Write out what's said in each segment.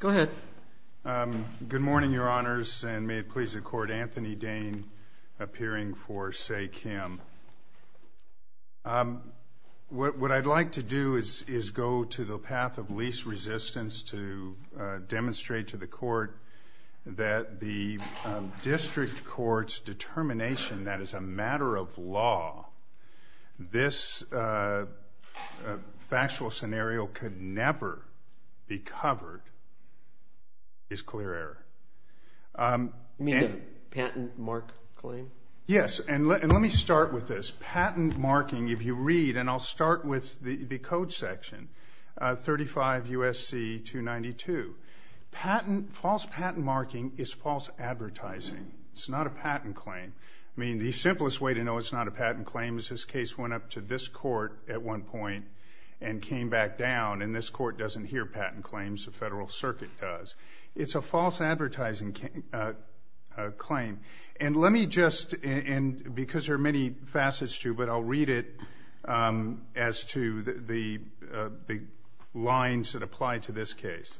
Good morning, Your Honors, and may it please the Court, Anthony Dane, appearing for Say Kim. What I'd like to do is go to the path of least resistance to demonstrate to the Court that the District Court's determination that, as a matter of law, this factual scenario could never be covered is clear error. You mean the patent mark claim? Yes, and let me start with this. Patent marking, if you read, and I'll start with the code section, 35 U.S.C. 292. False patent marking is false advertising. It's not a patent claim. I mean, the simplest way to know it's not a patent claim is this case went up to this Court at one point and came back down, and this Court doesn't hear patent claims, the Federal Circuit does. It's a false advertising claim. And let me just, and because there are many facets to it, but I'll read it as to the lines that apply to this case.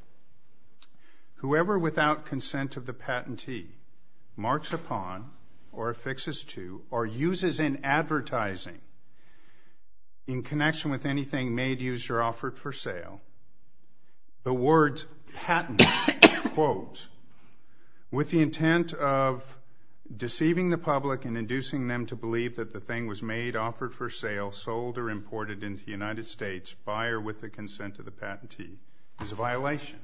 Whoever without consent of the patentee marks upon or affixes to or uses in advertising in connection with anything made, used, or offered for sale, the words patent, quote, with the intent of deceiving the public and imported into the United States, buyer with the consent of the patentee, is a violation.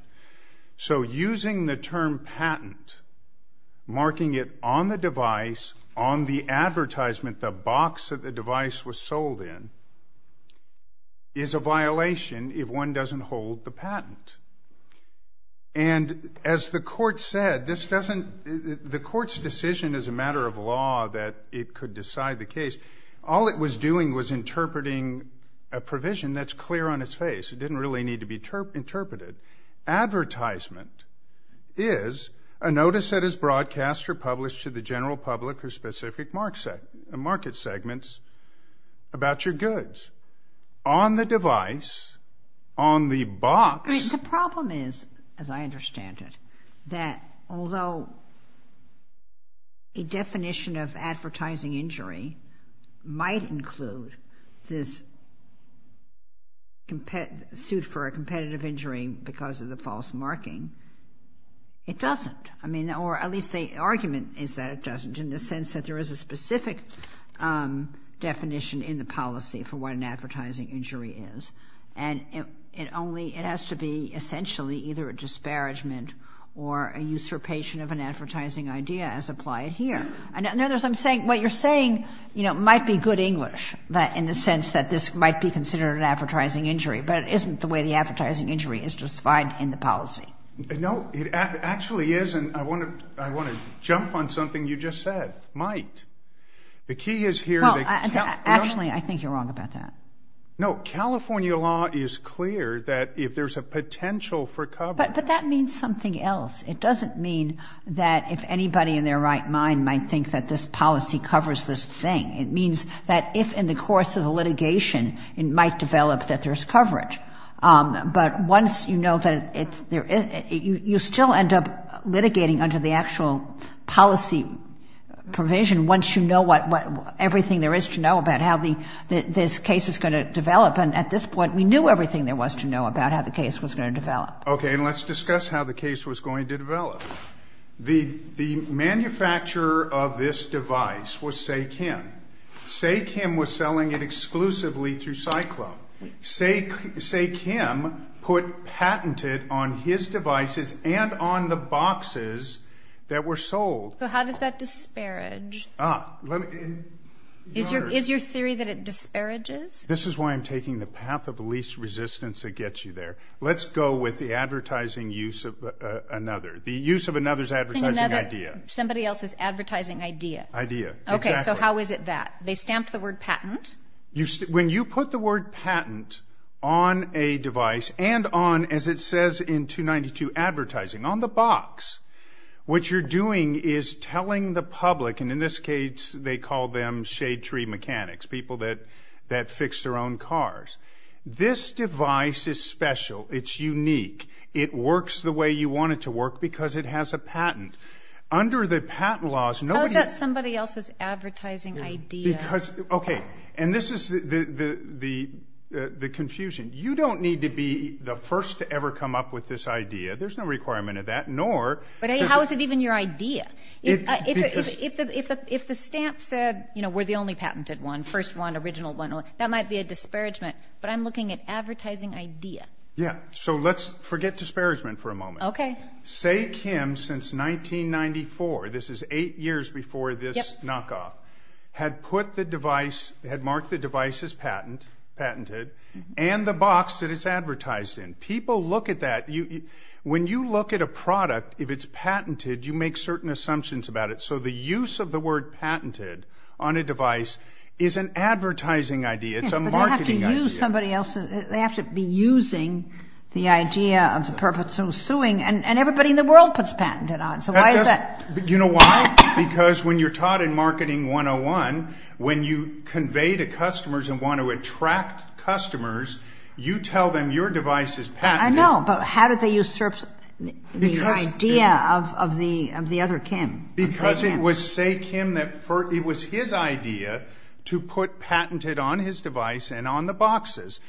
So using the term patent, marking it on the device, on the advertisement, the box that the device was sold in, is a violation if one doesn't hold the patent. And as the Court said, this doesn't, the Court's decision is a matter of law that it could decide the case. All it was doing was interpreting a provision that's clear on its face. It didn't really need to be interpreted. Advertisement is a notice that is broadcast or published to the general public for specific market segments about your goods. On the device, on the box. The problem is, as I understand it, that although a definition of advertising injury might include this suit for a competitive injury because of the false marking, it doesn't. I mean, or at least the argument is that it doesn't in the sense that there is a specific definition in the policy for what an advertising injury is. And it only, it has to be essentially either a disparagement or a usurpation of an advertising idea as applied here. And in other words, I'm saying, what you're saying, you know, might be good English in the sense that this might be considered an advertising injury, but it isn't the way the advertising injury is defined in the policy. No, it actually isn't. I want to, I want to jump on something you just said. Might. The key is here. Actually, I think you're wrong about that. No, California law is clear that if there's a potential for coverage. But that means something else. It doesn't mean that if anybody in their right mind might think that this policy covers this thing, it means that if in the course of the litigation, it might develop that there's coverage. But once you know that it's there, you still end up litigating under the actual policy provision once you know what, what, everything there is to know about how the, this case is going to develop. And at this point, we knew everything there was to know about how the case was going to develop. Okay. And let's discuss how the case was going to develop. The, the manufacturer of this device was SayKim. SayKim was selling it exclusively through Cyclone. Say, SayKim put patented on his devices and on the boxes that were sold. So how does that disparage? Is your, is your theory that it disparages? This is why I'm taking the path of least resistance that gets you there. Let's go with the advertising use of another, the use of another's advertising idea. Somebody else's advertising idea. Idea. Exactly. Okay. So how is it that they stamped the word patent? When you put the word patent on a device and on, as it says in 292 advertising on the box, what you're doing is telling the public, and in this case, they call them shade tree mechanics, people that, that fix their own cars. This device is special. It's unique. It works the way you want it to work because it has a patent. Under the patent laws, nobody- How is that somebody else's advertising idea? Because, okay. And this is the, the, the, the, the confusion. You don't need to be the requirement of that, nor- But how is it even your idea? If the, if the, if the, if the stamp said, you know, we're the only patented one, first one, original one, that might be a disparagement, but I'm looking at advertising idea. Yeah. So let's forget disparagement for a moment. Okay. Say Kim, since 1994, this is eight years before this knockoff, had put the device, had marked the device as patent, patented, and the box that it's advertised in. People look at that. When you look at a product, if it's patented, you make certain assumptions about it. So the use of the word patented on a device is an advertising idea. It's a marketing idea. Yes, but you have to use somebody else's, they have to be using the idea of the purpose of suing and, and everybody in the world puts patented on. So why is that? You know why? Because when you're taught in marketing 101, when you convey to customers and want to attract customers, you tell them your device is patented. I know, but how did they usurp the idea of, of the, of the other Kim? Because it was Say Kim that first, it was his idea to put patented on his device and on the boxes.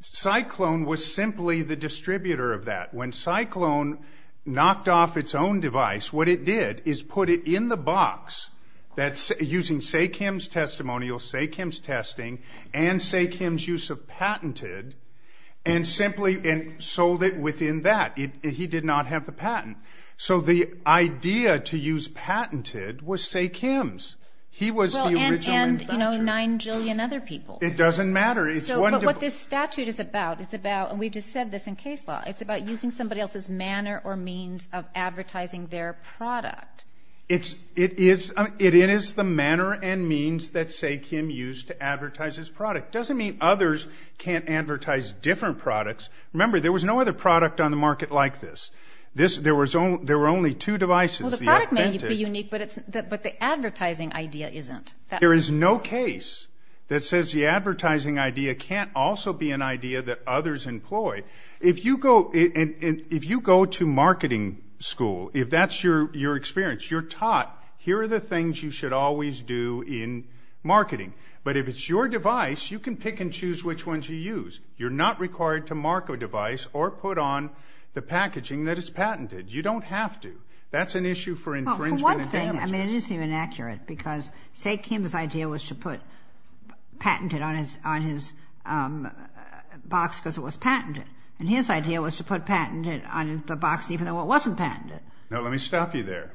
Cyclone was simply the distributor of that. When Cyclone knocked off its own device, what it did is put it in the box that's using Say Kim's testimonial, Say Kim's testing and Say Kim's use of patented and simply sold it within that. He did not have the patent. So the idea to use patented was Say Kim's. He was the original inventor. And, and you know, 9 jillion other people. It doesn't matter. It's wonderful. So, but what this statute is about, it's about, and we've just said this in case law, it's about using somebody else's manner or means of advertising their product. It's, it is, it is the manner and means that Say Kim used to advertise his product. Doesn't mean others can't advertise different products. Remember, there was no other product on the market like this. This, there was only, there were only two devices. Well, the product may be unique, but it's, but the advertising idea isn't. There is no case that says the advertising idea can't also be an idea that others employ. If you go, if you go to marketing school, if that's your, your experience, you're taught, here are the things you should always do in marketing. But if it's your device, you can pick and choose which one to use. You're not required to mark a device or put on the packaging that is patented. You don't have to. That's an issue for infringement and damages. Well, for one thing, I mean, it isn't even accurate because Say Kim's idea was to put patented on his, on his box because it was patented. And his idea was to put patented on the box even though it wasn't patented. Now, let me stop you there.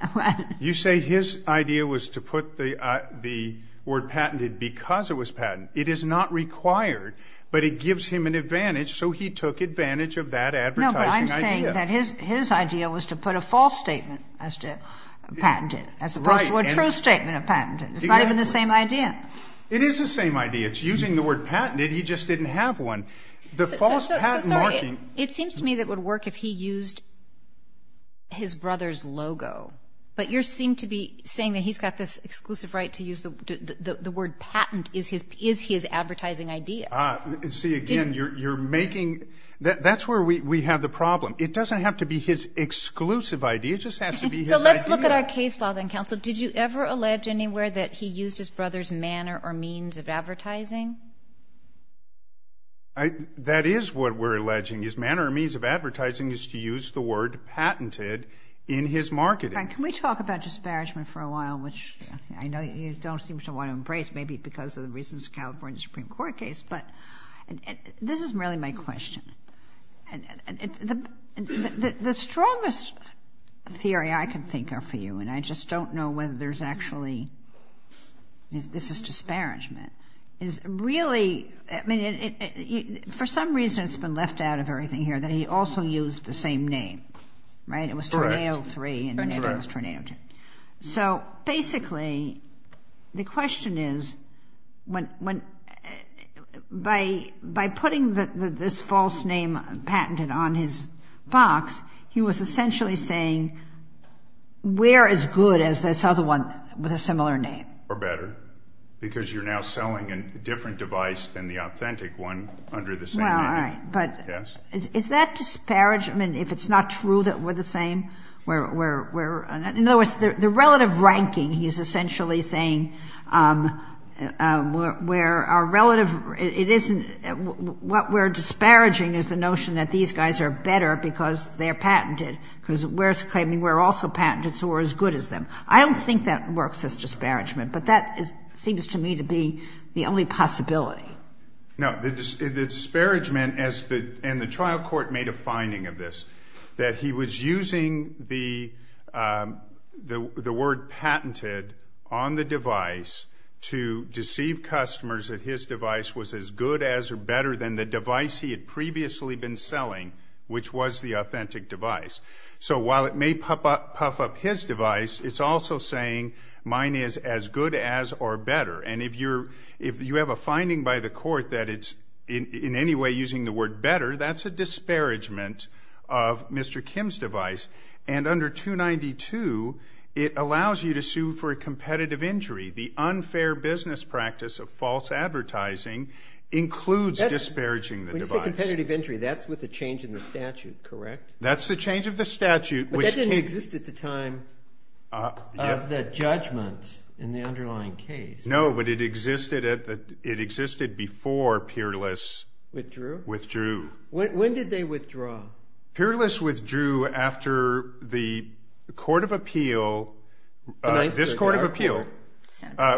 You say his idea was to put the, the word patented because it was patented. It is not required, but it gives him an advantage, so he took advantage of that advertising idea. No, but I'm saying that his, his idea was to put a false statement as to patented as opposed to a true statement of patented. It's not even the same idea. It is the same idea. It's using the word patented. He just didn't have one. The false patent marking. So, so, so, sorry. It seems to me that it would work if he used his brother's logo, but you're seem to be saying that he's got this exclusive right to use the, the, the, the word patent is his, is his advertising idea. Ah, see, again, you're, you're making, that, that's where we, we have the problem. It doesn't have to be his exclusive idea. It just has to be his idea. So, let's look at our case law then, counsel. Did you ever allege anywhere that he used his brother's manner or means of advertising? I, that is what we're alleging. His manner or means of advertising is to use the word patented in his marketing. Can we talk about disparagement for a while, which I know you don't seem to want to embrace, maybe because of the reasons California Supreme Court case, but this is really my question. The, the, the, the strongest theory I can think of for you, and I just don't know whether there's actually, this, this is disparagement, is really, I mean, it, it, it, it, for some reason it's been left out of everything here that he also used the same name, right? It was Tornado 3 and then it was Tornado 2. So basically, the question is, when, when, by, by putting the, the, this false name patented on his box, he was essentially saying, we're as good as this other one with a similar name. Or better, because you're now selling a different device than the authentic one under the same name. Well, all right, but is, is that disparagement if it's not true that we're the same? We're, we're, we're, in other words, the, the relative ranking, he's essentially saying, we're, we're, our relative, it isn't, what we're disparaging is the notion that these guys are better because they're patented, because we're claiming we're also patented, so we're as good as them. I don't think that works as disparagement, but that is, seems to me to be the only possibility. No, the, the disparagement as the, and the trial court made a finding of this, that he was using the, the, the word patented on the device to deceive customers that his device was as good as or better than the device he had previously been selling, which was the authentic device. So while it may puff up, puff up his device, it's also saying mine is as good as or better. And if you're, if you have a finding by the court that it's in, in any way using the word better, that's a disparagement of Mr. Kim's device. And under 292, it allows you to sue for a competitive injury. The unfair business practice of false advertising includes disparaging the device. When you say competitive injury, that's with the change in the statute, correct? That's the change of the statute, which can... But that didn't exist at the time of the judgment in the underlying case. No, but it existed at the, it existed before Peerless... Withdrew? Withdrew. When, when did they withdraw? Peerless withdrew after the Court of Appeal, this Court of Appeal,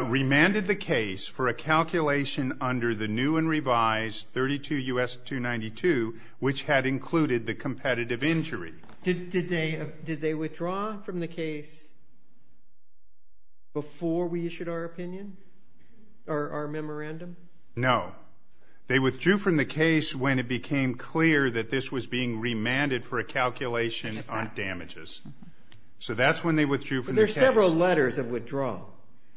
remanded the case for a calculation under the new and revised 32 U.S. 292, which had included the competitive injury. Did, did they, did they withdraw from the case before we issued our opinion, or our memorandum? No. They withdrew from the case when it became clear that this was being remanded for a calculation on damages. So that's when they withdrew from the case. But there are several letters of withdrawal.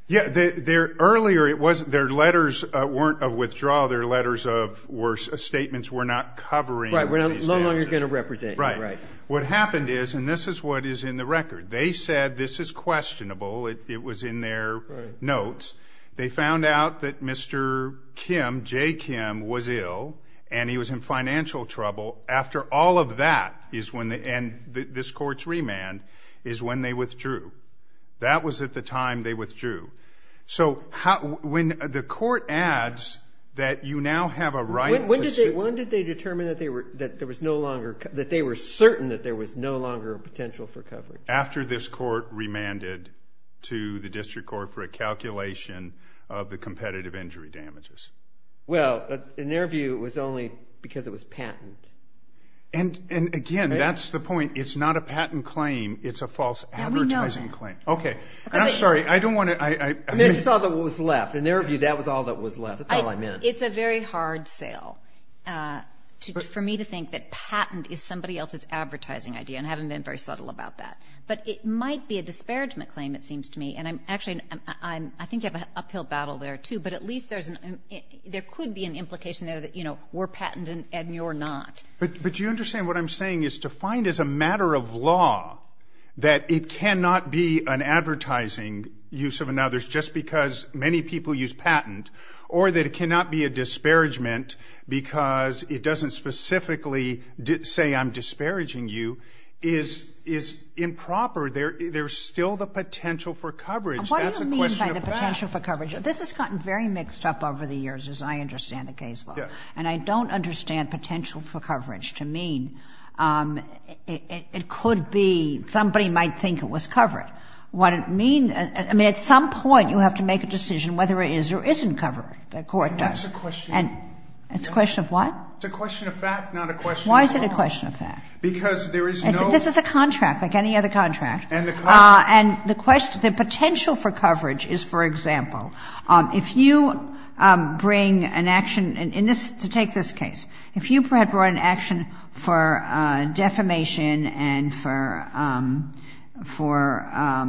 Yeah, there, there, earlier it wasn't, their letters weren't of withdrawal, their letters of, were, statements were not covering... Right, were no longer going to represent you. Right. What happened is, and this is what is in the record, they said this is questionable, it, it was in their notes. They found out that Mr. Kim, J. Kim, was ill, and he was in financial trouble. After all of that is when the end, this Court's remand, is when they withdrew. That was at the time they withdrew. So how, when the Court adds that you now have a right to... When, when did they, when did they determine that they were, that there was no longer, that they were certain that there was no longer a potential for coverage? After this Court remanded to the District Court for a calculation of the competitive injury damages. Well, in their view, it was only because it was patent. And, and again, that's the point. It's not a patent claim, it's a false advertising claim. Yeah, we know that. Okay. And I'm sorry, I don't want to, I, I... I mean, that's all that was left. In their view, that was all that was left. That's all I meant. I, it's a very hard sale, to, for me to think that patent is somebody else's advertising idea, and I haven't been very subtle about that. But it might be a disparagement claim, it seems to me, and I'm actually, I'm, I think you have an uphill battle there, too, but at least there's an, there could be an implication there that, you know, we're patenting and you're not. But, but you understand what I'm saying is to find as a matter of law that it cannot be an advertising use of another's just because many people use patent, or that it cannot be a disparagement because it doesn't specifically say I'm disparaging you, is, is improper. There, there's still the potential for coverage. That's a question of fact. What do you mean by the potential for coverage? This has gotten very mixed up over the years, as I understand the case law. Yes. And I don't understand potential for coverage to mean it, it could be somebody might think it was covered. What it means, I mean, at some point, you have to make a decision whether it is or isn't covered, the court does. That's a question. And, it's a question of what? It's a question of fact, not a question of law. Why is it a question of fact? Because there is no. This is a contract, like any other contract. And the question, the potential for coverage is, for example, if you bring an action in this, to take this case, if you had brought an action for defamation and for, for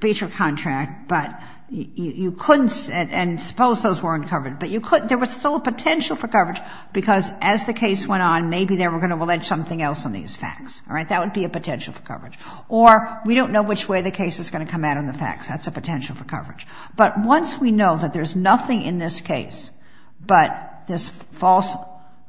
breach of contract, but you couldn't, and suppose those weren't covered, but you couldn't, there was still a potential for coverage because as the case went on, maybe they were going to allege something else on these facts. All right? That would be a potential for coverage. Or, we don't know which way the case is going to come out on the facts. That's a potential for coverage. But once we know that there's nothing in this case but this false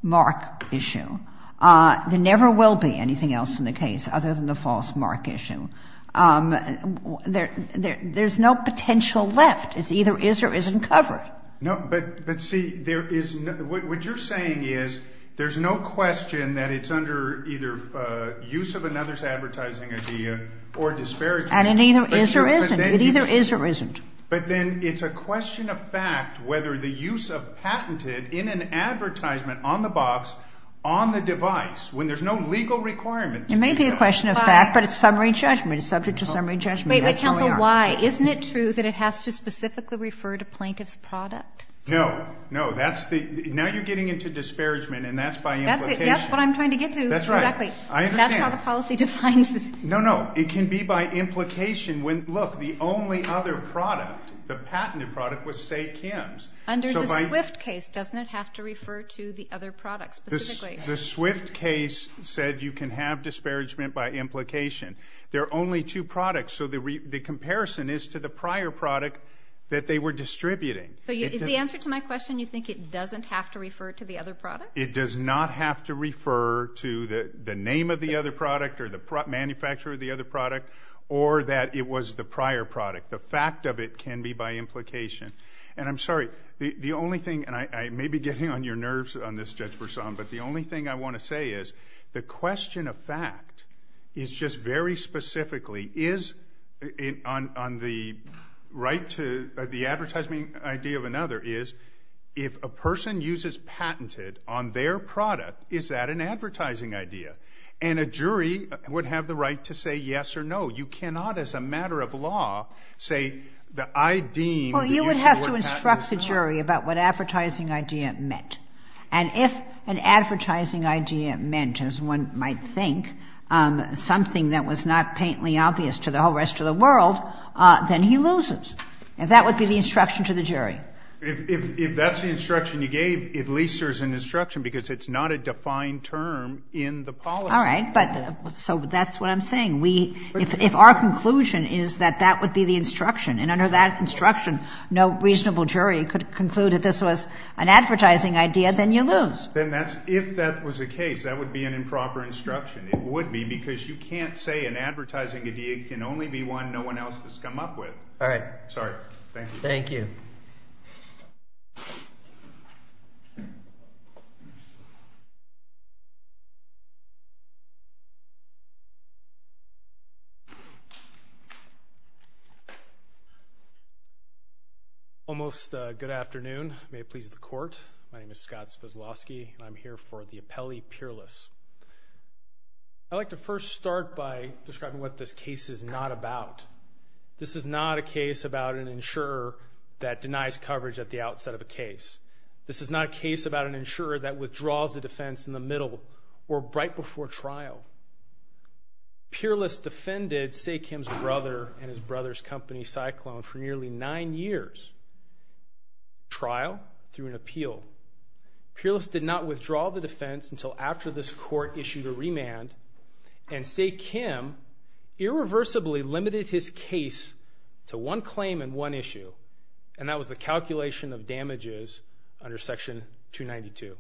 mark issue, there never will be anything else in the case other than the false mark issue. There, there's no potential left. It's either is or isn't covered. No, but, but see, there is, what you're saying is there's no question that it's under either use of another's advertising idea or disparity. And it either is or isn't. It either is or isn't. But then it's a question of fact whether the use of patented in an advertisement on the box, on the device, when there's no legal requirement to do that. It may be a question of fact, but it's summary judgment. It's subject to summary judgment. Wait, wait, counsel, why? Isn't it true that it has to specifically refer to plaintiff's product? No, no, that's the, now you're getting into disparagement, and that's by implication. That's it, that's what I'm trying to get to. That's right. Exactly. I understand. That's how the policy defines this. No, no. It can be by implication when, look, the only other product, the patented product was say, Kim's. Under the Swift case, doesn't it have to refer to the other product specifically? The Swift case said you can have disparagement by implication. There are only two products, so the comparison is to the prior product that they were distributing. So is the answer to my question, you think it doesn't have to refer to the other product? It does not have to refer to the name of the other product or the manufacturer of the other product or that it was the prior product. The fact of it can be by implication. And I'm sorry, the only thing, and I may be getting on your nerves on this, Judge Bersan, but the only thing I want to say is the question of fact is just very specifically is on the right to, the advertising idea of another is if a person uses patented on their product, is that an advertising idea? And a jury would have the right to say yes or no. You cannot as a matter of law say that I deem the use of a patent is not. All right. So that's what I'm saying. If our conclusion is that that would be the instruction, and under that instruction, no reasonable jury could conclude that this was an advertising idea, then you lose. Then that's, if that was the case, that would be an improper instruction. It would be because you can't say an advertising idea can only be one no one else has come up with. All right. Sorry. Thank you. Thank you. Almost good afternoon. May it please the court. My name is Scott Spaslovsky, and I'm here for the appellee peerless. I'd like to first start by describing what this case is not about. This is not a case about an insurer that denies coverage at the outset of a case. This is not a case about an insurer that withdraws a defense in the middle or right before trial. Peerless defended Sae Kim's brother and his brother's company, Cyclone, for nearly nine years. Trial through an appeal. Peerless did not withdraw the defense until after this court issued a remand, and Sae Kim irreversibly limited his case to one claim and one issue, and that was the calculation of damages under section 292.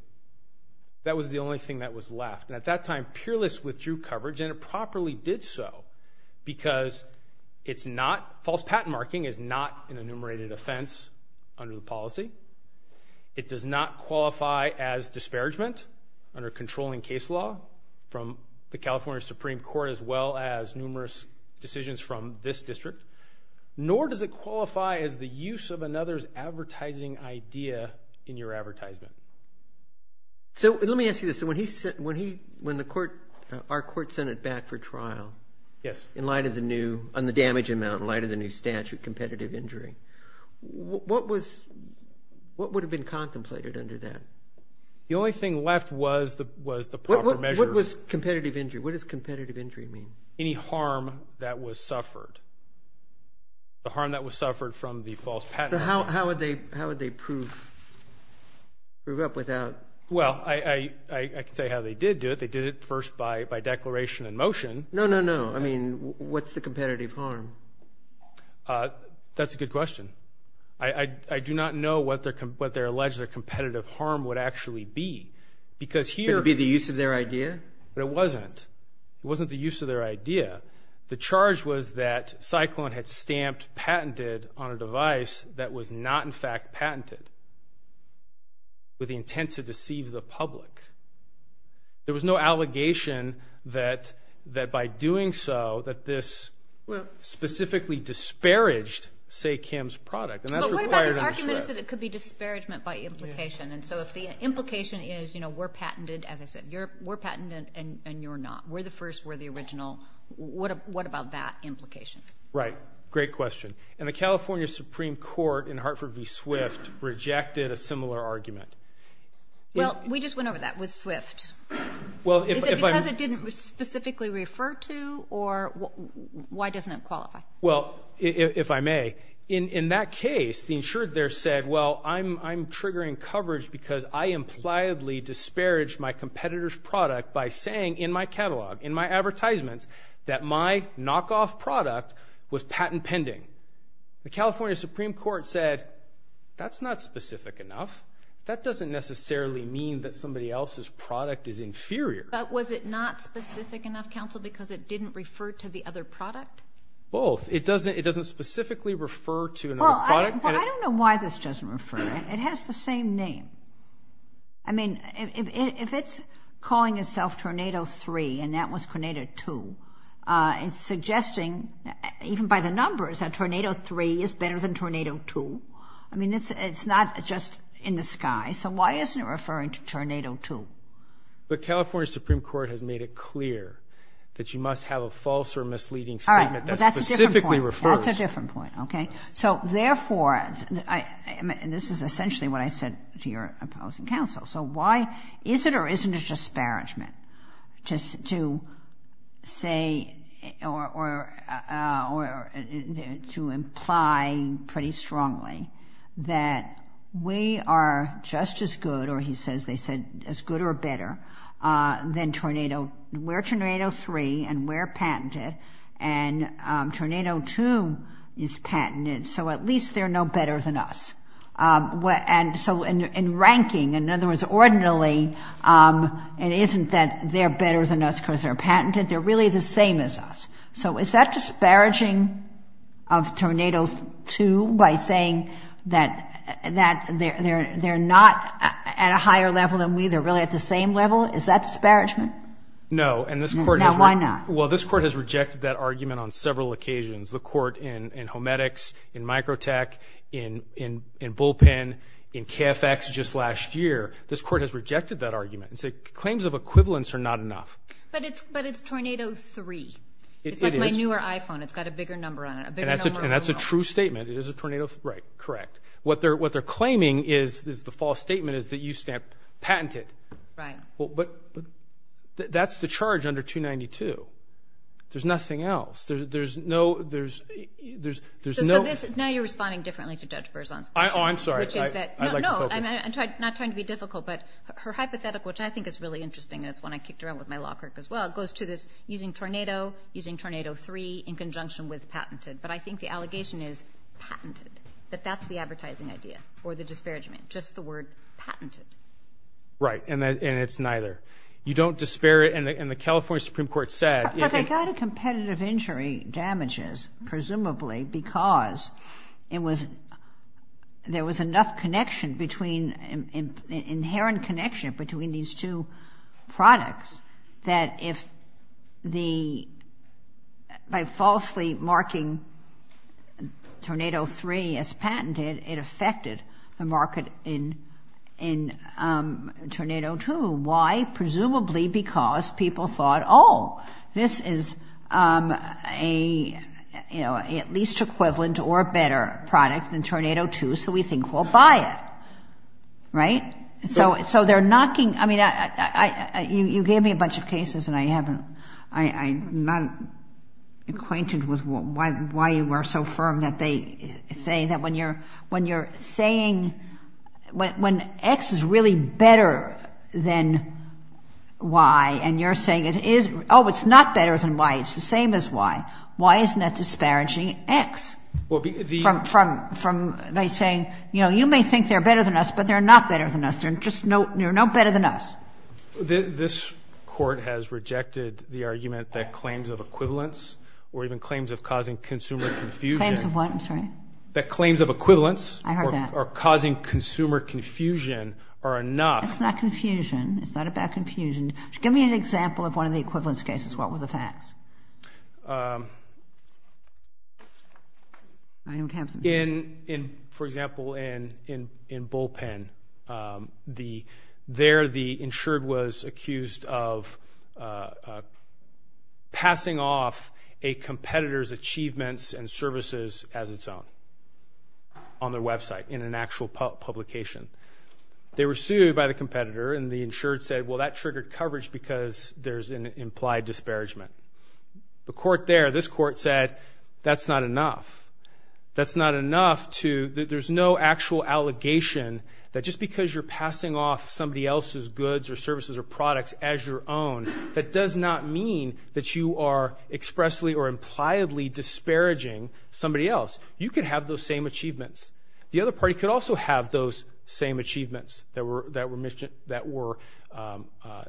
That was the only thing that was left, and at that time Peerless withdrew coverage, and it properly did so because it's not false patent marking is not an enumerated offense under the policy. It does not qualify as disparagement under controlling case law from the California Supreme Court as well as numerous decisions from this district, nor does it qualify as the use of another's When he, when the court, our court sent it back for trial, in light of the new, on the damage amount, in light of the new statute, competitive injury, what was, what would have been contemplated under that? The only thing left was the proper measure. What was competitive injury? What does competitive injury mean? Any harm that was suffered. The harm that was suffered from the false patent. So how would they prove up without? Well, I can say how they did do it. They did it first by, by declaration in motion. No, no, no. I mean, what's the competitive harm? That's a good question. I, I, I do not know what their, what their alleged, their competitive harm would actually be because here... Could it be the use of their idea? But it wasn't. It wasn't the use of their idea. The charge was that Cyclone had stamped patented on a device that was not in fact patented with the intent to deceive the public. There was no allegation that, that by doing so, that this specifically disparaged, say, Kim's product. But what about this argument that it could be disparagement by implication? And so if the implication is, you know, we're patented, as I said, you're, we're patented and, and you're not. We're the first, we're the original. What, what about that implication? Right. Great question. And the California Supreme Court in Hartford v. Swift rejected a similar argument. Well, we just went over that with Swift. Well, if I'm... Is it because it didn't specifically refer to or why doesn't it qualify? Well, if I may, in, in that case, the insured there said, well, I'm, I'm triggering coverage because I impliedly disparaged my competitor's product by saying in my catalog, in my advertisements, that my knockoff product was patent pending. The California Supreme Court said, that's not specific enough. That doesn't necessarily mean that somebody else's product is inferior. But was it not specific enough, counsel, because it didn't refer to the other product? Both. It doesn't, it doesn't specifically refer to another product. Well, I don't know why this doesn't refer. It has the same name. I mean, if, if, if it's calling itself Tornado 3 and that was Tornado 2, it's suggesting, even by the numbers, that Tornado 3 is better than Tornado 2. I mean, it's, it's not just in the sky. So why isn't it referring to Tornado 2? The California Supreme Court has made it clear that you must have a false or misleading statement that specifically refers... All right. Well, that's a different point. That's a different point. Okay. So therefore, I, and this is essentially what I said to your opposing counsel. So why is it, or isn't it a disparagement just to say, or, or, or to imply pretty strongly that we are just as good, or he says, they said as good or better than Tornado, we're Tornado 3 and we're patented and Tornado 2 is patented. So at least they're no better than us. And so in ranking, in other words, ordinarily, it isn't that they're better than us because they're patented. They're really the same as us. So is that disparaging of Tornado 2 by saying that, that they're, they're, they're not at a higher level than we, they're really at the same level? Is that disparagement? No. And this court... Now why not? Well, this court has rejected that argument on several occasions. The court in, in Homedics, in Microtech, in, in, in Bullpen, in KFX just last year, this court has rejected that argument and said claims of equivalence are not enough. But it's, but it's Tornado 3. It's like my newer iPhone. It's got a bigger number on it. And that's a, and that's a true statement. It is a Tornado 3. Right. Correct. What they're, what they're claiming is, is the false statement is that you stamp patented. Right. But that's the charge under 292. There's nothing else. There's, there's no, there's, there's, there's no... So this, now you're responding differently to Judge Berzon's question. Oh, I'm sorry. I'd like to focus. Which is that, no, no, I'm not trying to be difficult, but her hypothetical, which I think is really interesting, and it's one I kicked around with my law clerk as well, goes to this using Tornado, using Tornado 3 in conjunction with patented. But I think the allegation is patented, that that's the advertising idea or the disparagement, just the word patented. Right. And that, and it's neither. You don't disparage, and the, and the California Supreme Court said... But they got a competitive injury damages, presumably because it was, there was enough connection between, inherent connection between these two products that if the, by falsely marking Tornado 3 as patented, it affected the market in, in Tornado 2. Why? Presumably because people thought, oh, this is a, you know, at least equivalent or better product than Tornado 2, so we think we'll buy it. Right? So, so they're knocking, I mean, I, I, I, I, you, you gave me a bunch of cases and I haven't, I, I'm not acquainted with why, why you are so firm that they say that when you're, when you're saying, when, when X is really better than Y and you're saying it is, oh, it's not better than Y, it's the same as Y. Why isn't that disparaging X? Well, the... From, from, from, by saying, you know, you may think they're better than us, but they're not better than us. They're just no, they're no better than us. This, this court has rejected the argument that claims of equivalence or even claims of causing consumer confusion... Claims of what? I'm sorry. That claims of equivalence... I heard that. Or, or causing consumer confusion are enough... It's not confusion. It's not about confusion. Give me an example of one of the equivalence cases. What were the facts? I don't have them. In, in, for example, in, in, in Bullpen, the, there the insured was accused of passing off a competitor's achievements and services as its own on their website, in an actual publication. They were sued by the competitor and the insured said, well, that triggered coverage because there's an implied disparagement. The court there, this court said, that's not enough. That's not enough to, there's no actual allegation that just because you're passing off somebody else's goods or services or products as your own, that does not mean that you are expressly or impliedly disparaging somebody else. You could have those same achievements. The other party could also have those same achievements that were, that were mentioned, that were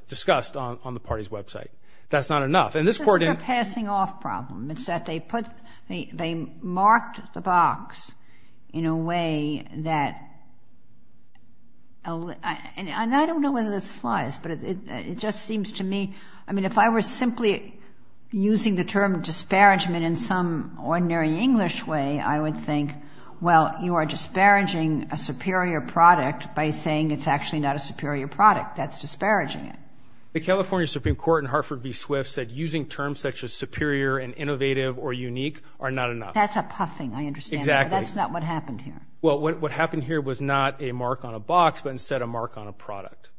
discussed on, on the party's website. That's not enough. And this court... It's not a passing off problem. It's that they put, they, they marked the box in a way that, and I don't know whether this flies, but it, it, it just seems to me, I mean, if I were simply using the term disparagement in some ordinary English way, I would think, well, you are disparaging a superior product by saying it's actually not a superior product. That's disparaging it. The California Supreme Court in Hartford v. Swift said using terms such as superior and innovative or unique are not enough. That's a puffing, I understand. Exactly. That's not what happened here. Well, what, what happened here was not a mark on a box, but instead a mark on a product.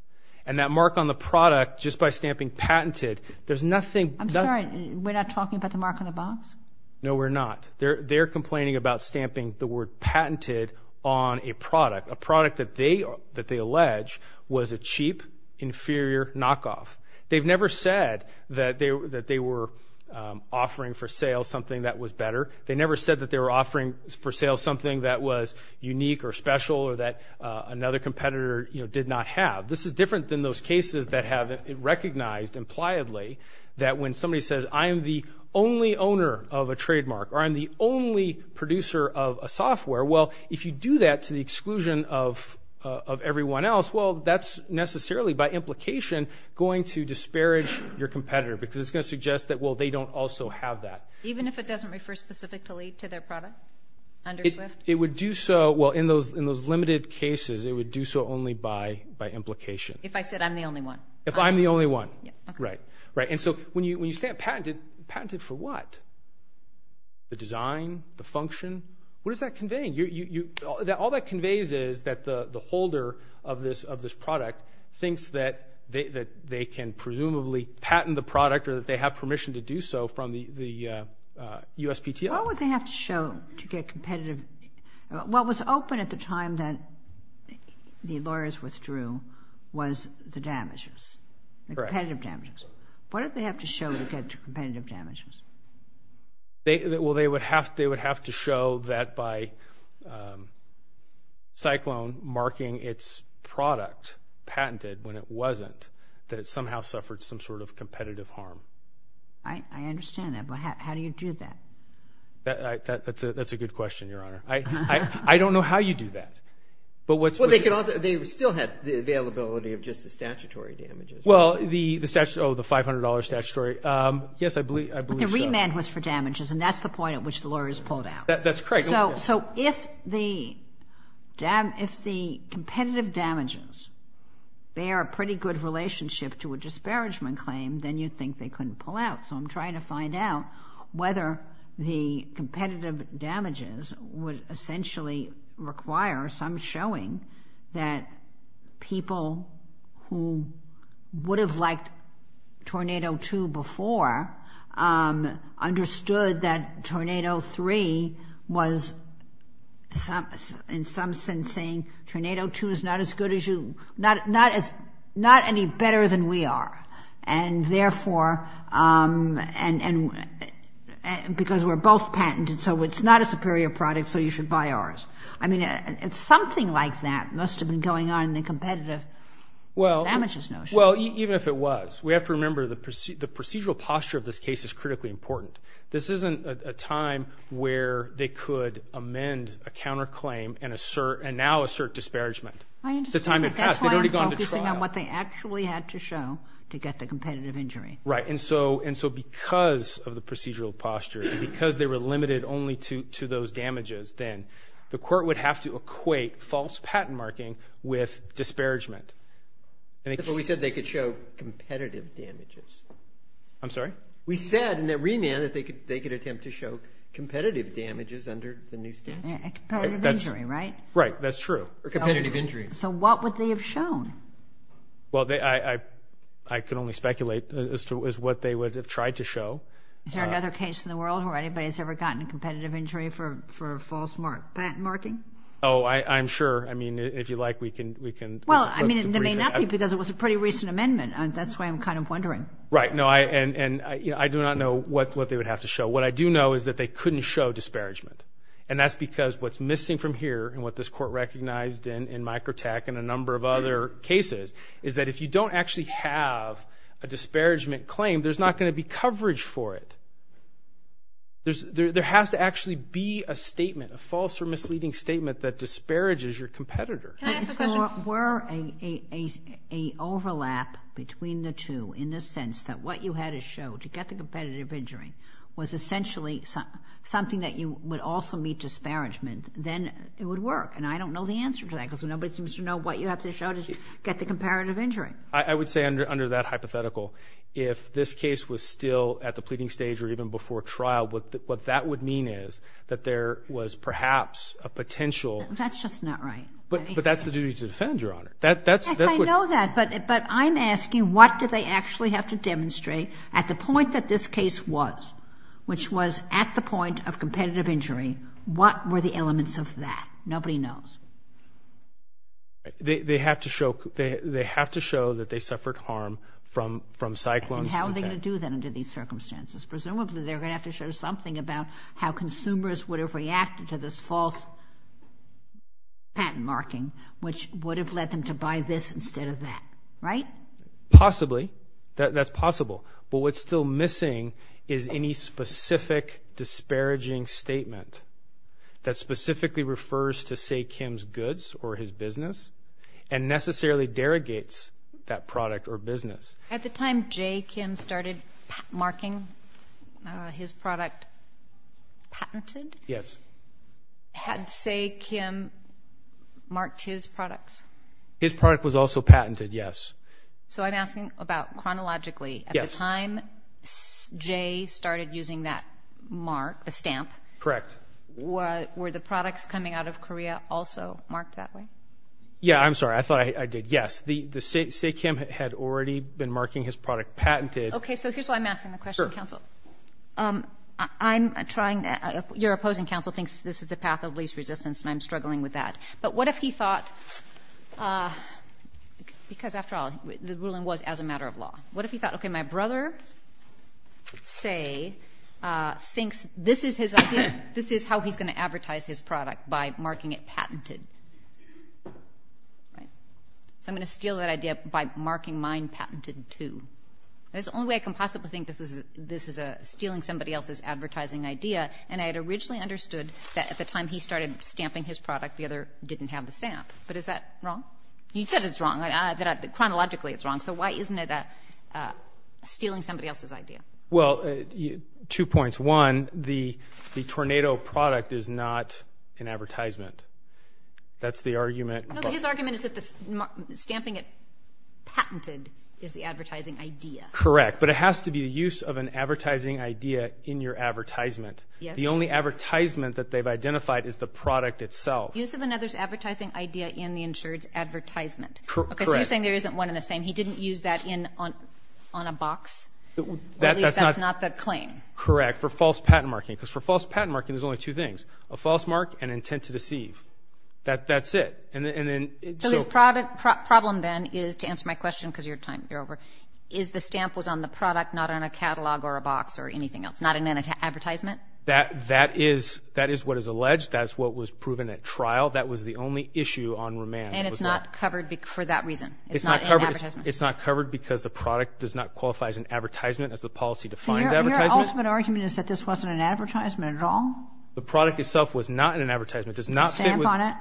And that mark on the product, just by stamping patented, there's nothing... I'm sorry, we're not talking about the mark on the box? No, we're not. They're, they're complaining about stamping the word patented on a product, a product that they, that they allege was a cheap, inferior knockoff. They've never said that they, that they were offering for sale something that was better. They never said that they were offering for sale something that was unique or special or that another competitor, you know, did not have. This is different than those cases that have recognized, impliedly, that when somebody says, I am the only owner of a trademark or I'm the only producer of a software, well, if you do that to the exclusion of, of everyone else, well, that's necessarily by implication going to disparage your competitor because it's going to suggest that, well, they don't also have that. Even if it doesn't refer specifically to their product under Swift? It, it would do so, well, in those, in those limited cases, it would do so only by, by implication. If I said I'm the only one. If I'm the only one. Yeah. Right. Right. And so when you, when you stamp patented, patented for what? The design? The function? What does that convey? You, you, you, that all that conveys is that the, the holder of this, of this product thinks that they, that they can presumably patent the product or that they have permission to What was open at the time that the lawyers withdrew was the damages. Correct. The competitive damages. What did they have to show to get to competitive damages? They, well, they would have, they would have to show that by Cyclone marking its product patented when it wasn't, that it somehow suffered some sort of competitive harm. I, I understand that, but how, how do you do that? That, that, that's a, that's a good question, Your Honor. I, I, I don't know how you do that, but what's. Well, they could also, they still had the availability of just the statutory damages. Well, the, the statute, oh, the $500 statutory. Yes, I believe, I believe so. But the remand was for damages and that's the point at which the lawyers pulled out. That, that's correct. Okay. So, so if the dam, if the competitive damages bear a pretty good relationship to a disparagement claim, then you'd think they couldn't pull out. So I'm trying to find out whether the competitive damages would essentially require some showing that people who would have liked Tornado 2 before understood that Tornado 3 was in some sense saying, Tornado 2 is not as good as you, not, not as, not any better than we are. And therefore, and, and, and because we're both patented, so it's not a superior product, so you should buy ours. I mean, it's something like that must have been going on in the competitive damages notion. Well, even if it was, we have to remember the procedural posture of this case is critically important. This isn't a time where they could amend a counterclaim and assert, and now assert disparagement. I understand. It's a time in the trial. Focusing on what they actually had to show to get the competitive injury. Right. And so, and so because of the procedural posture, because they were limited only to, to those damages, then the court would have to equate false patent marking with disparagement. We said they could show competitive damages. I'm sorry? We said in the remand that they could, they could attempt to show competitive damages under the new statute. Competitive injury, right? Right. That's true. Competitive injuries. So what would they have shown? Well, they, I, I, I can only speculate as to what they would have tried to show. Is there another case in the world where anybody's ever gotten a competitive injury for, for false mark, patent marking? Oh, I, I'm sure. I mean, if you like, we can, we can. Well, I mean, it may not be because it was a pretty recent amendment. That's why I'm kind of wondering. Right. No, I, and, and I do not know what, what they would have to show. What I do know is that they couldn't show disparagement, and that's because what's missing from here, and what this court recognized in, in Microtech and a number of other cases, is that if you don't actually have a disparagement claim, there's not going to be coverage for it. There's, there, there has to actually be a statement, a false or misleading statement that disparages your competitor. Can I ask a question? So were a, a, a, a overlap between the two in the sense that what you had to show to get the competitive injury was essentially something that you would also meet disparagement, then it would work? And I don't know the answer to that because nobody seems to know what you have to show to get the comparative injury. I, I would say under, under that hypothetical, if this case was still at the pleading stage or even before trial, what, what that would mean is that there was perhaps a potential. That's just not right. But, but that's the duty to defend, Your Honor. That, that's, that's what. Yes, I know that, but, but I'm asking what do they actually have to demonstrate at the point that this case was, which was at the point of competitive injury, what were the elements of that? Nobody knows. They, they have to show, they, they have to show that they suffered harm from, from cyclones. And how are they going to do that under these circumstances? Presumably, they're going to have to show something about how consumers would have reacted to this false patent marking, which would have led them to buy this instead of that, right? Possibly. That, that's possible. But what's still missing is any specific disparaging statement that specifically refers to, say, Kim's goods or his business and necessarily derogates that product or business. At the time Jay Kim started marking his product patented? Yes. Had, say, Kim marked his products? His product was also patented, yes. So, I'm asking about chronologically. Yes. At the time Jay started using that mark, a stamp. Correct. Were the products coming out of Korea also marked that way? Yeah, I'm sorry. I thought I did. Yes. The, the, say, Kim had already been marking his product patented. Okay. So, here's why I'm asking the question, counsel. I'm trying to, your opposing counsel thinks this is a path of least resistance and I'm struggling with that. But what if he thought, because after all, the ruling was as a matter of law, what if he thought, okay, my idea, this is how he's going to advertise his product, by marking it patented. Right. So, I'm going to steal that idea by marking mine patented, too. That's the only way I can possibly think this is a, this is a stealing somebody else's advertising idea and I had originally understood that at the time he started stamping his product, the other didn't have the stamp. But is that wrong? He said it's wrong. I, I, that I, that the Tornado product is not an advertisement. That's the argument. No, but his argument is that the stamping it patented is the advertising idea. Correct. But it has to be a use of an advertising idea in your advertisement. Yes. The only advertisement that they've identified is the product itself. Use of another's advertising idea in the insured's advertisement. Correct. Okay. So, you're saying there isn't one in the same. He only two things. A false mark and intent to deceive. That, that's it. And then, and then. So, his product, problem then is, to answer my question because your time, you're over, is the stamp was on the product, not on a catalog or a box or anything else? Not an advertisement? That, that is, that is what is alleged. That's what was proven at trial. That was the only issue on remand. And it's not covered for that reason. It's not covered. It's not covered because the product does not qualify as an advertisement as the policy defines advertisement. Your ultimate argument is that this wasn't an advertisement at all? The product itself was not in an advertisement. Does not fit with. Stamp on it?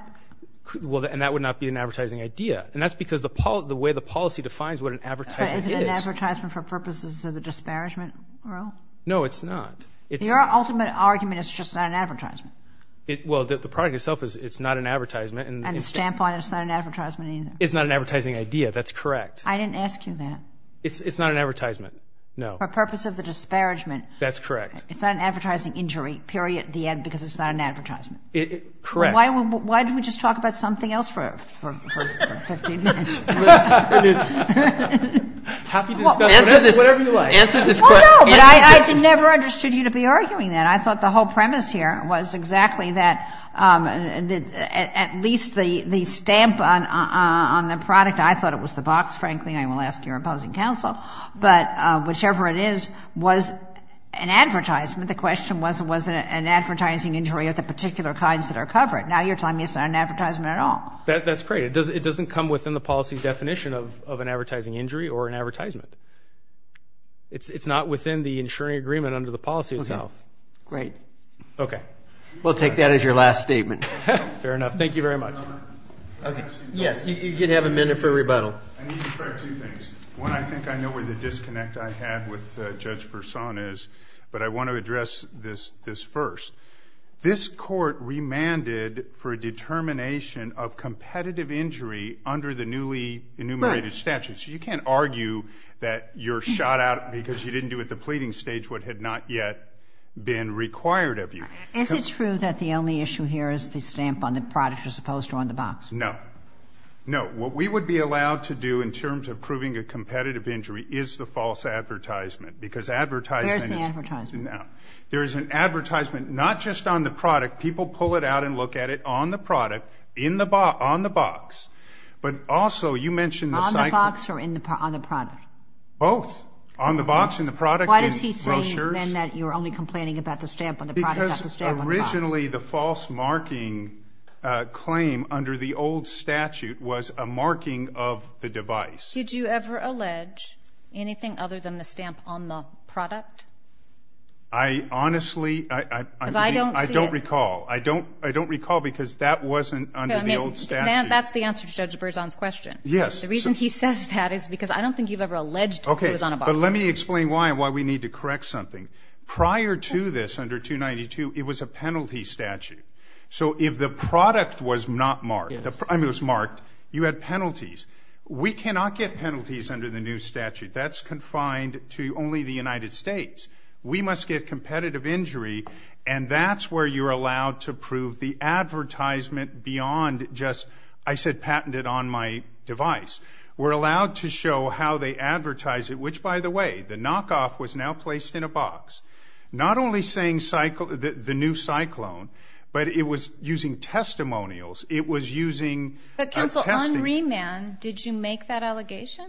Well, and that would not be an advertising idea. And that's because the policy, the way the policy defines what an advertisement is. Is it an advertisement for purposes of a disparagement rule? No, it's not. It's. Your ultimate argument is it's just not an advertisement. It, well, the, the product itself is, it's not an advertisement and. And the stamp on it's not an advertisement either. It's not an advertising idea. That's correct. I mean, it's not an advertising injury, period, at the end, because it's not an advertisement. It, correct. Why, why did we just talk about something else for, for, for 15 minutes? Happy discussion. Whatever you like. Answer this, answer this question. Well, no, but I, I never understood you to be arguing that. I thought the whole premise here was exactly that, that at least the, the stamp on, on the product, I thought it was the box, frankly. I will ask your opposing counsel. But whichever it is, was an advertisement. The question was, was it an advertising injury of the particular kinds that are covered? Now you're telling me it's not an advertisement at all. That, that's great. It doesn't, it doesn't come within the policy definition of, of an advertising injury or an advertisement. It's, it's not within the insuring agreement under the policy itself. Okay. Great. Okay. We'll take that as your last statement. Fair enough. Thank you very much. Okay. Yes. You could have a minute for rebuttal. I need to correct two things. One, I think I know where the disconnect I had with Judge Persaud is, but I want to address this, this first. This court remanded for a determination of competitive injury under the newly enumerated statute. Right. So you can't argue that you're shot out because you didn't do at the pleading stage what had not yet been required of you. Is it true that the only issue here is the stamp on the product as opposed to on the box? No. No. What we would be allowed to do in terms of proving a competitive injury is the false advertisement because advertisement is... Where's the advertisement? Now, there is an advertisement, not just on the product. People pull it out and look at it on the product, in the box, on the box. But also you mentioned the... On the box or in the, on the product? Both. On the box and the product Why does he claim then that you're only complaining about the stamp on the product, not the stamp on the box? Because originally the false marking claim under the old statute was a marking of the device. Did you ever allege anything other than the stamp on the product? I honestly, I don't recall. Because I don't see it. I don't, I don't recall because that wasn't under the old statute. I mean, that's the answer to Judge Persaud's question. Yes. The reason he says that is because I don't think you've ever need to correct something. Prior to this, under 292, it was a penalty statute. So if the product was not marked, I mean it was marked, you had penalties. We cannot get penalties under the new statute. That's confined to only the United States. We must get competitive injury and that's where you're allowed to prove the Now placed in a box. Not only saying cycle, the new cyclone, but it was using testimonials. It was using... But counsel, on remand, did you make that allegation?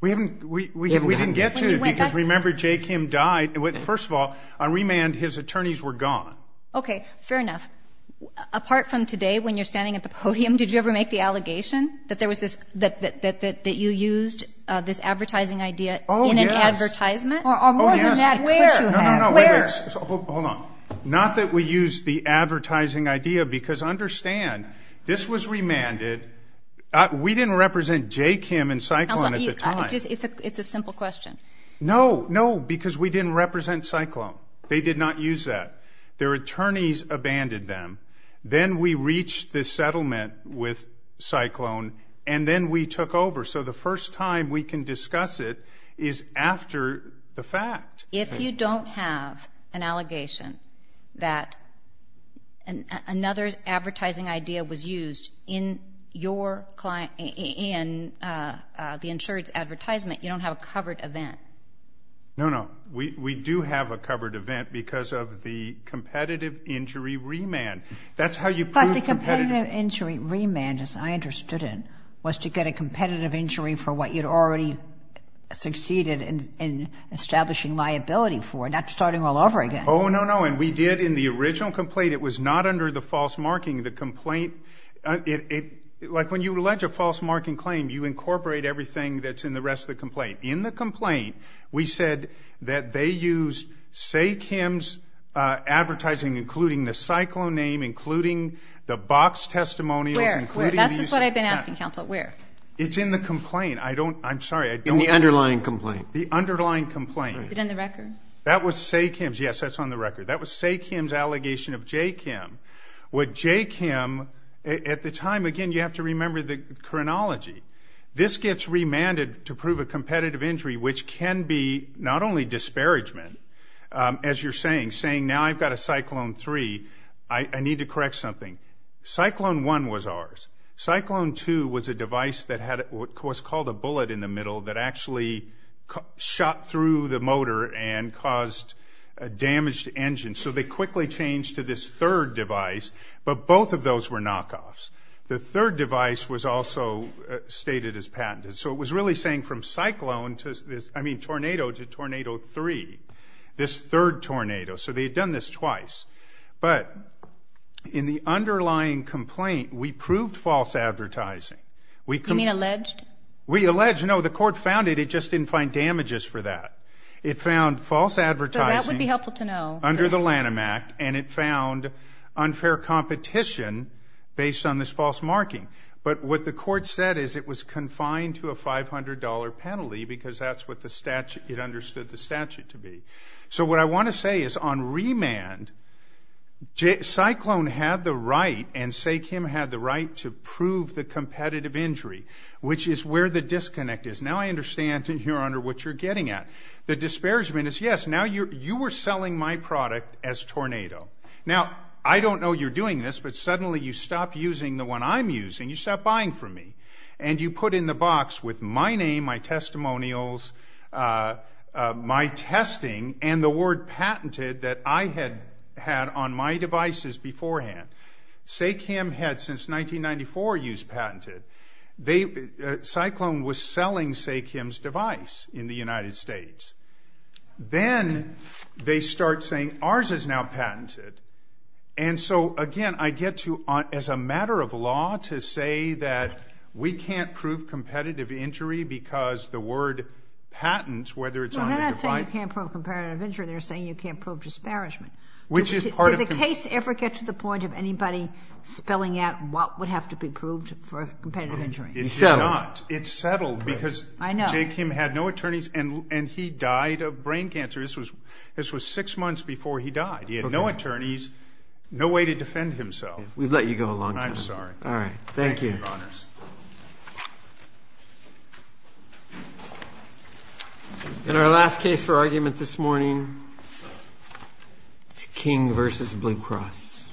We haven't, we didn't get to it because remember, Jay Kim died. First of all, on remand, his attorneys were gone. Okay, fair enough. Apart from today, when you're standing at the podium, did you ever make the allegation that there was this, that, that, that, that you used this advertising idea in an advertisement? Hold on. Not that we use the advertising idea because understand, this was remanded. We didn't represent Jay Kim and Cyclone at the time. It's a settlement with Cyclone and then we took over. So the first time we can discuss it is after the fact. If you don't have an allegation that another advertising idea was used in your client, in the insurance advertisement, you don't have a covered event. No, no. We do have a covered event because of the competitive injury remand. That's how you prove competitive. But the competitive injury remand, as I understood it, was to get a competitive injury for what you'd already succeeded in establishing liability for, not starting all over again. Oh, no, no. And we did in the original complaint, it was not under the false marking. The complaint, it, like when you allege a false marking claim, you incorporate everything that's in the rest of the complaint. In the complaint, we said that they used Say Kim's advertising, including the Cyclone name, including the box testimonials. Where? That's what I've been asking, counsel. Where? It's in the complaint. I don't, I'm sorry. In the underlying complaint. The underlying complaint. Is it in the record? That was Say Kim's. Yes, that's on the record. That was Say Kim's allegation of Jay Kim. With Jay Kim, at the time, again, you have to remember the chronology. This gets remanded to prove a competitive injury, which can be not only disparagement, as you're saying, saying now I've got a Cyclone 3, I need to correct something. Cyclone 1 was ours. Cyclone 2 was a device that had what was called a bullet in the device, but both of those were knockoffs. The third device was also stated as patented. So it was really saying from Cyclone to, I mean, Tornado to Tornado 3, this third Tornado. So they had done this twice. But in the underlying complaint, we proved false advertising. You mean alleged? We alleged, no, the court found it, it just didn't find fair competition based on this false marking. But what the court said is it was confined to a $500 penalty because that's what the statute, it understood the statute to be. So what I want to say is on remand, Cyclone had the right and Say Kim had the right to prove the competitive injury, which is where the disconnect is. Now I understand, Your Honor, what you're getting at. The disparagement is, yes, now you were selling my product as Tornado. Now I don't know you're doing this, but suddenly you stop using the one I'm using, you stop buying from me. And you put in the box with my name, my testimonials, my testing, and the word patented that I had had on my devices beforehand. Say Kim had since 1994 used patented. Cyclone was selling Say Kim's device in the United States. Then they start saying ours is now patented. And so, again, I get to, as a matter of law, to say that we can't prove competitive injury because the word patent, whether it's on the device. They're not saying you can't prove competitive injury, they're saying you can't prove disparagement. Did the case ever get to the point of anybody spelling out what would have to be proved for competitive injury? It settled because Say Kim had no attorneys and he died of brain cancer. This was six months before he died. He had no attorneys, no way to defend himself. We've let you go a long time. I'm sorry. Thank you, Your Honors. In our last case for argument this morning, it's King v. Blue Cross.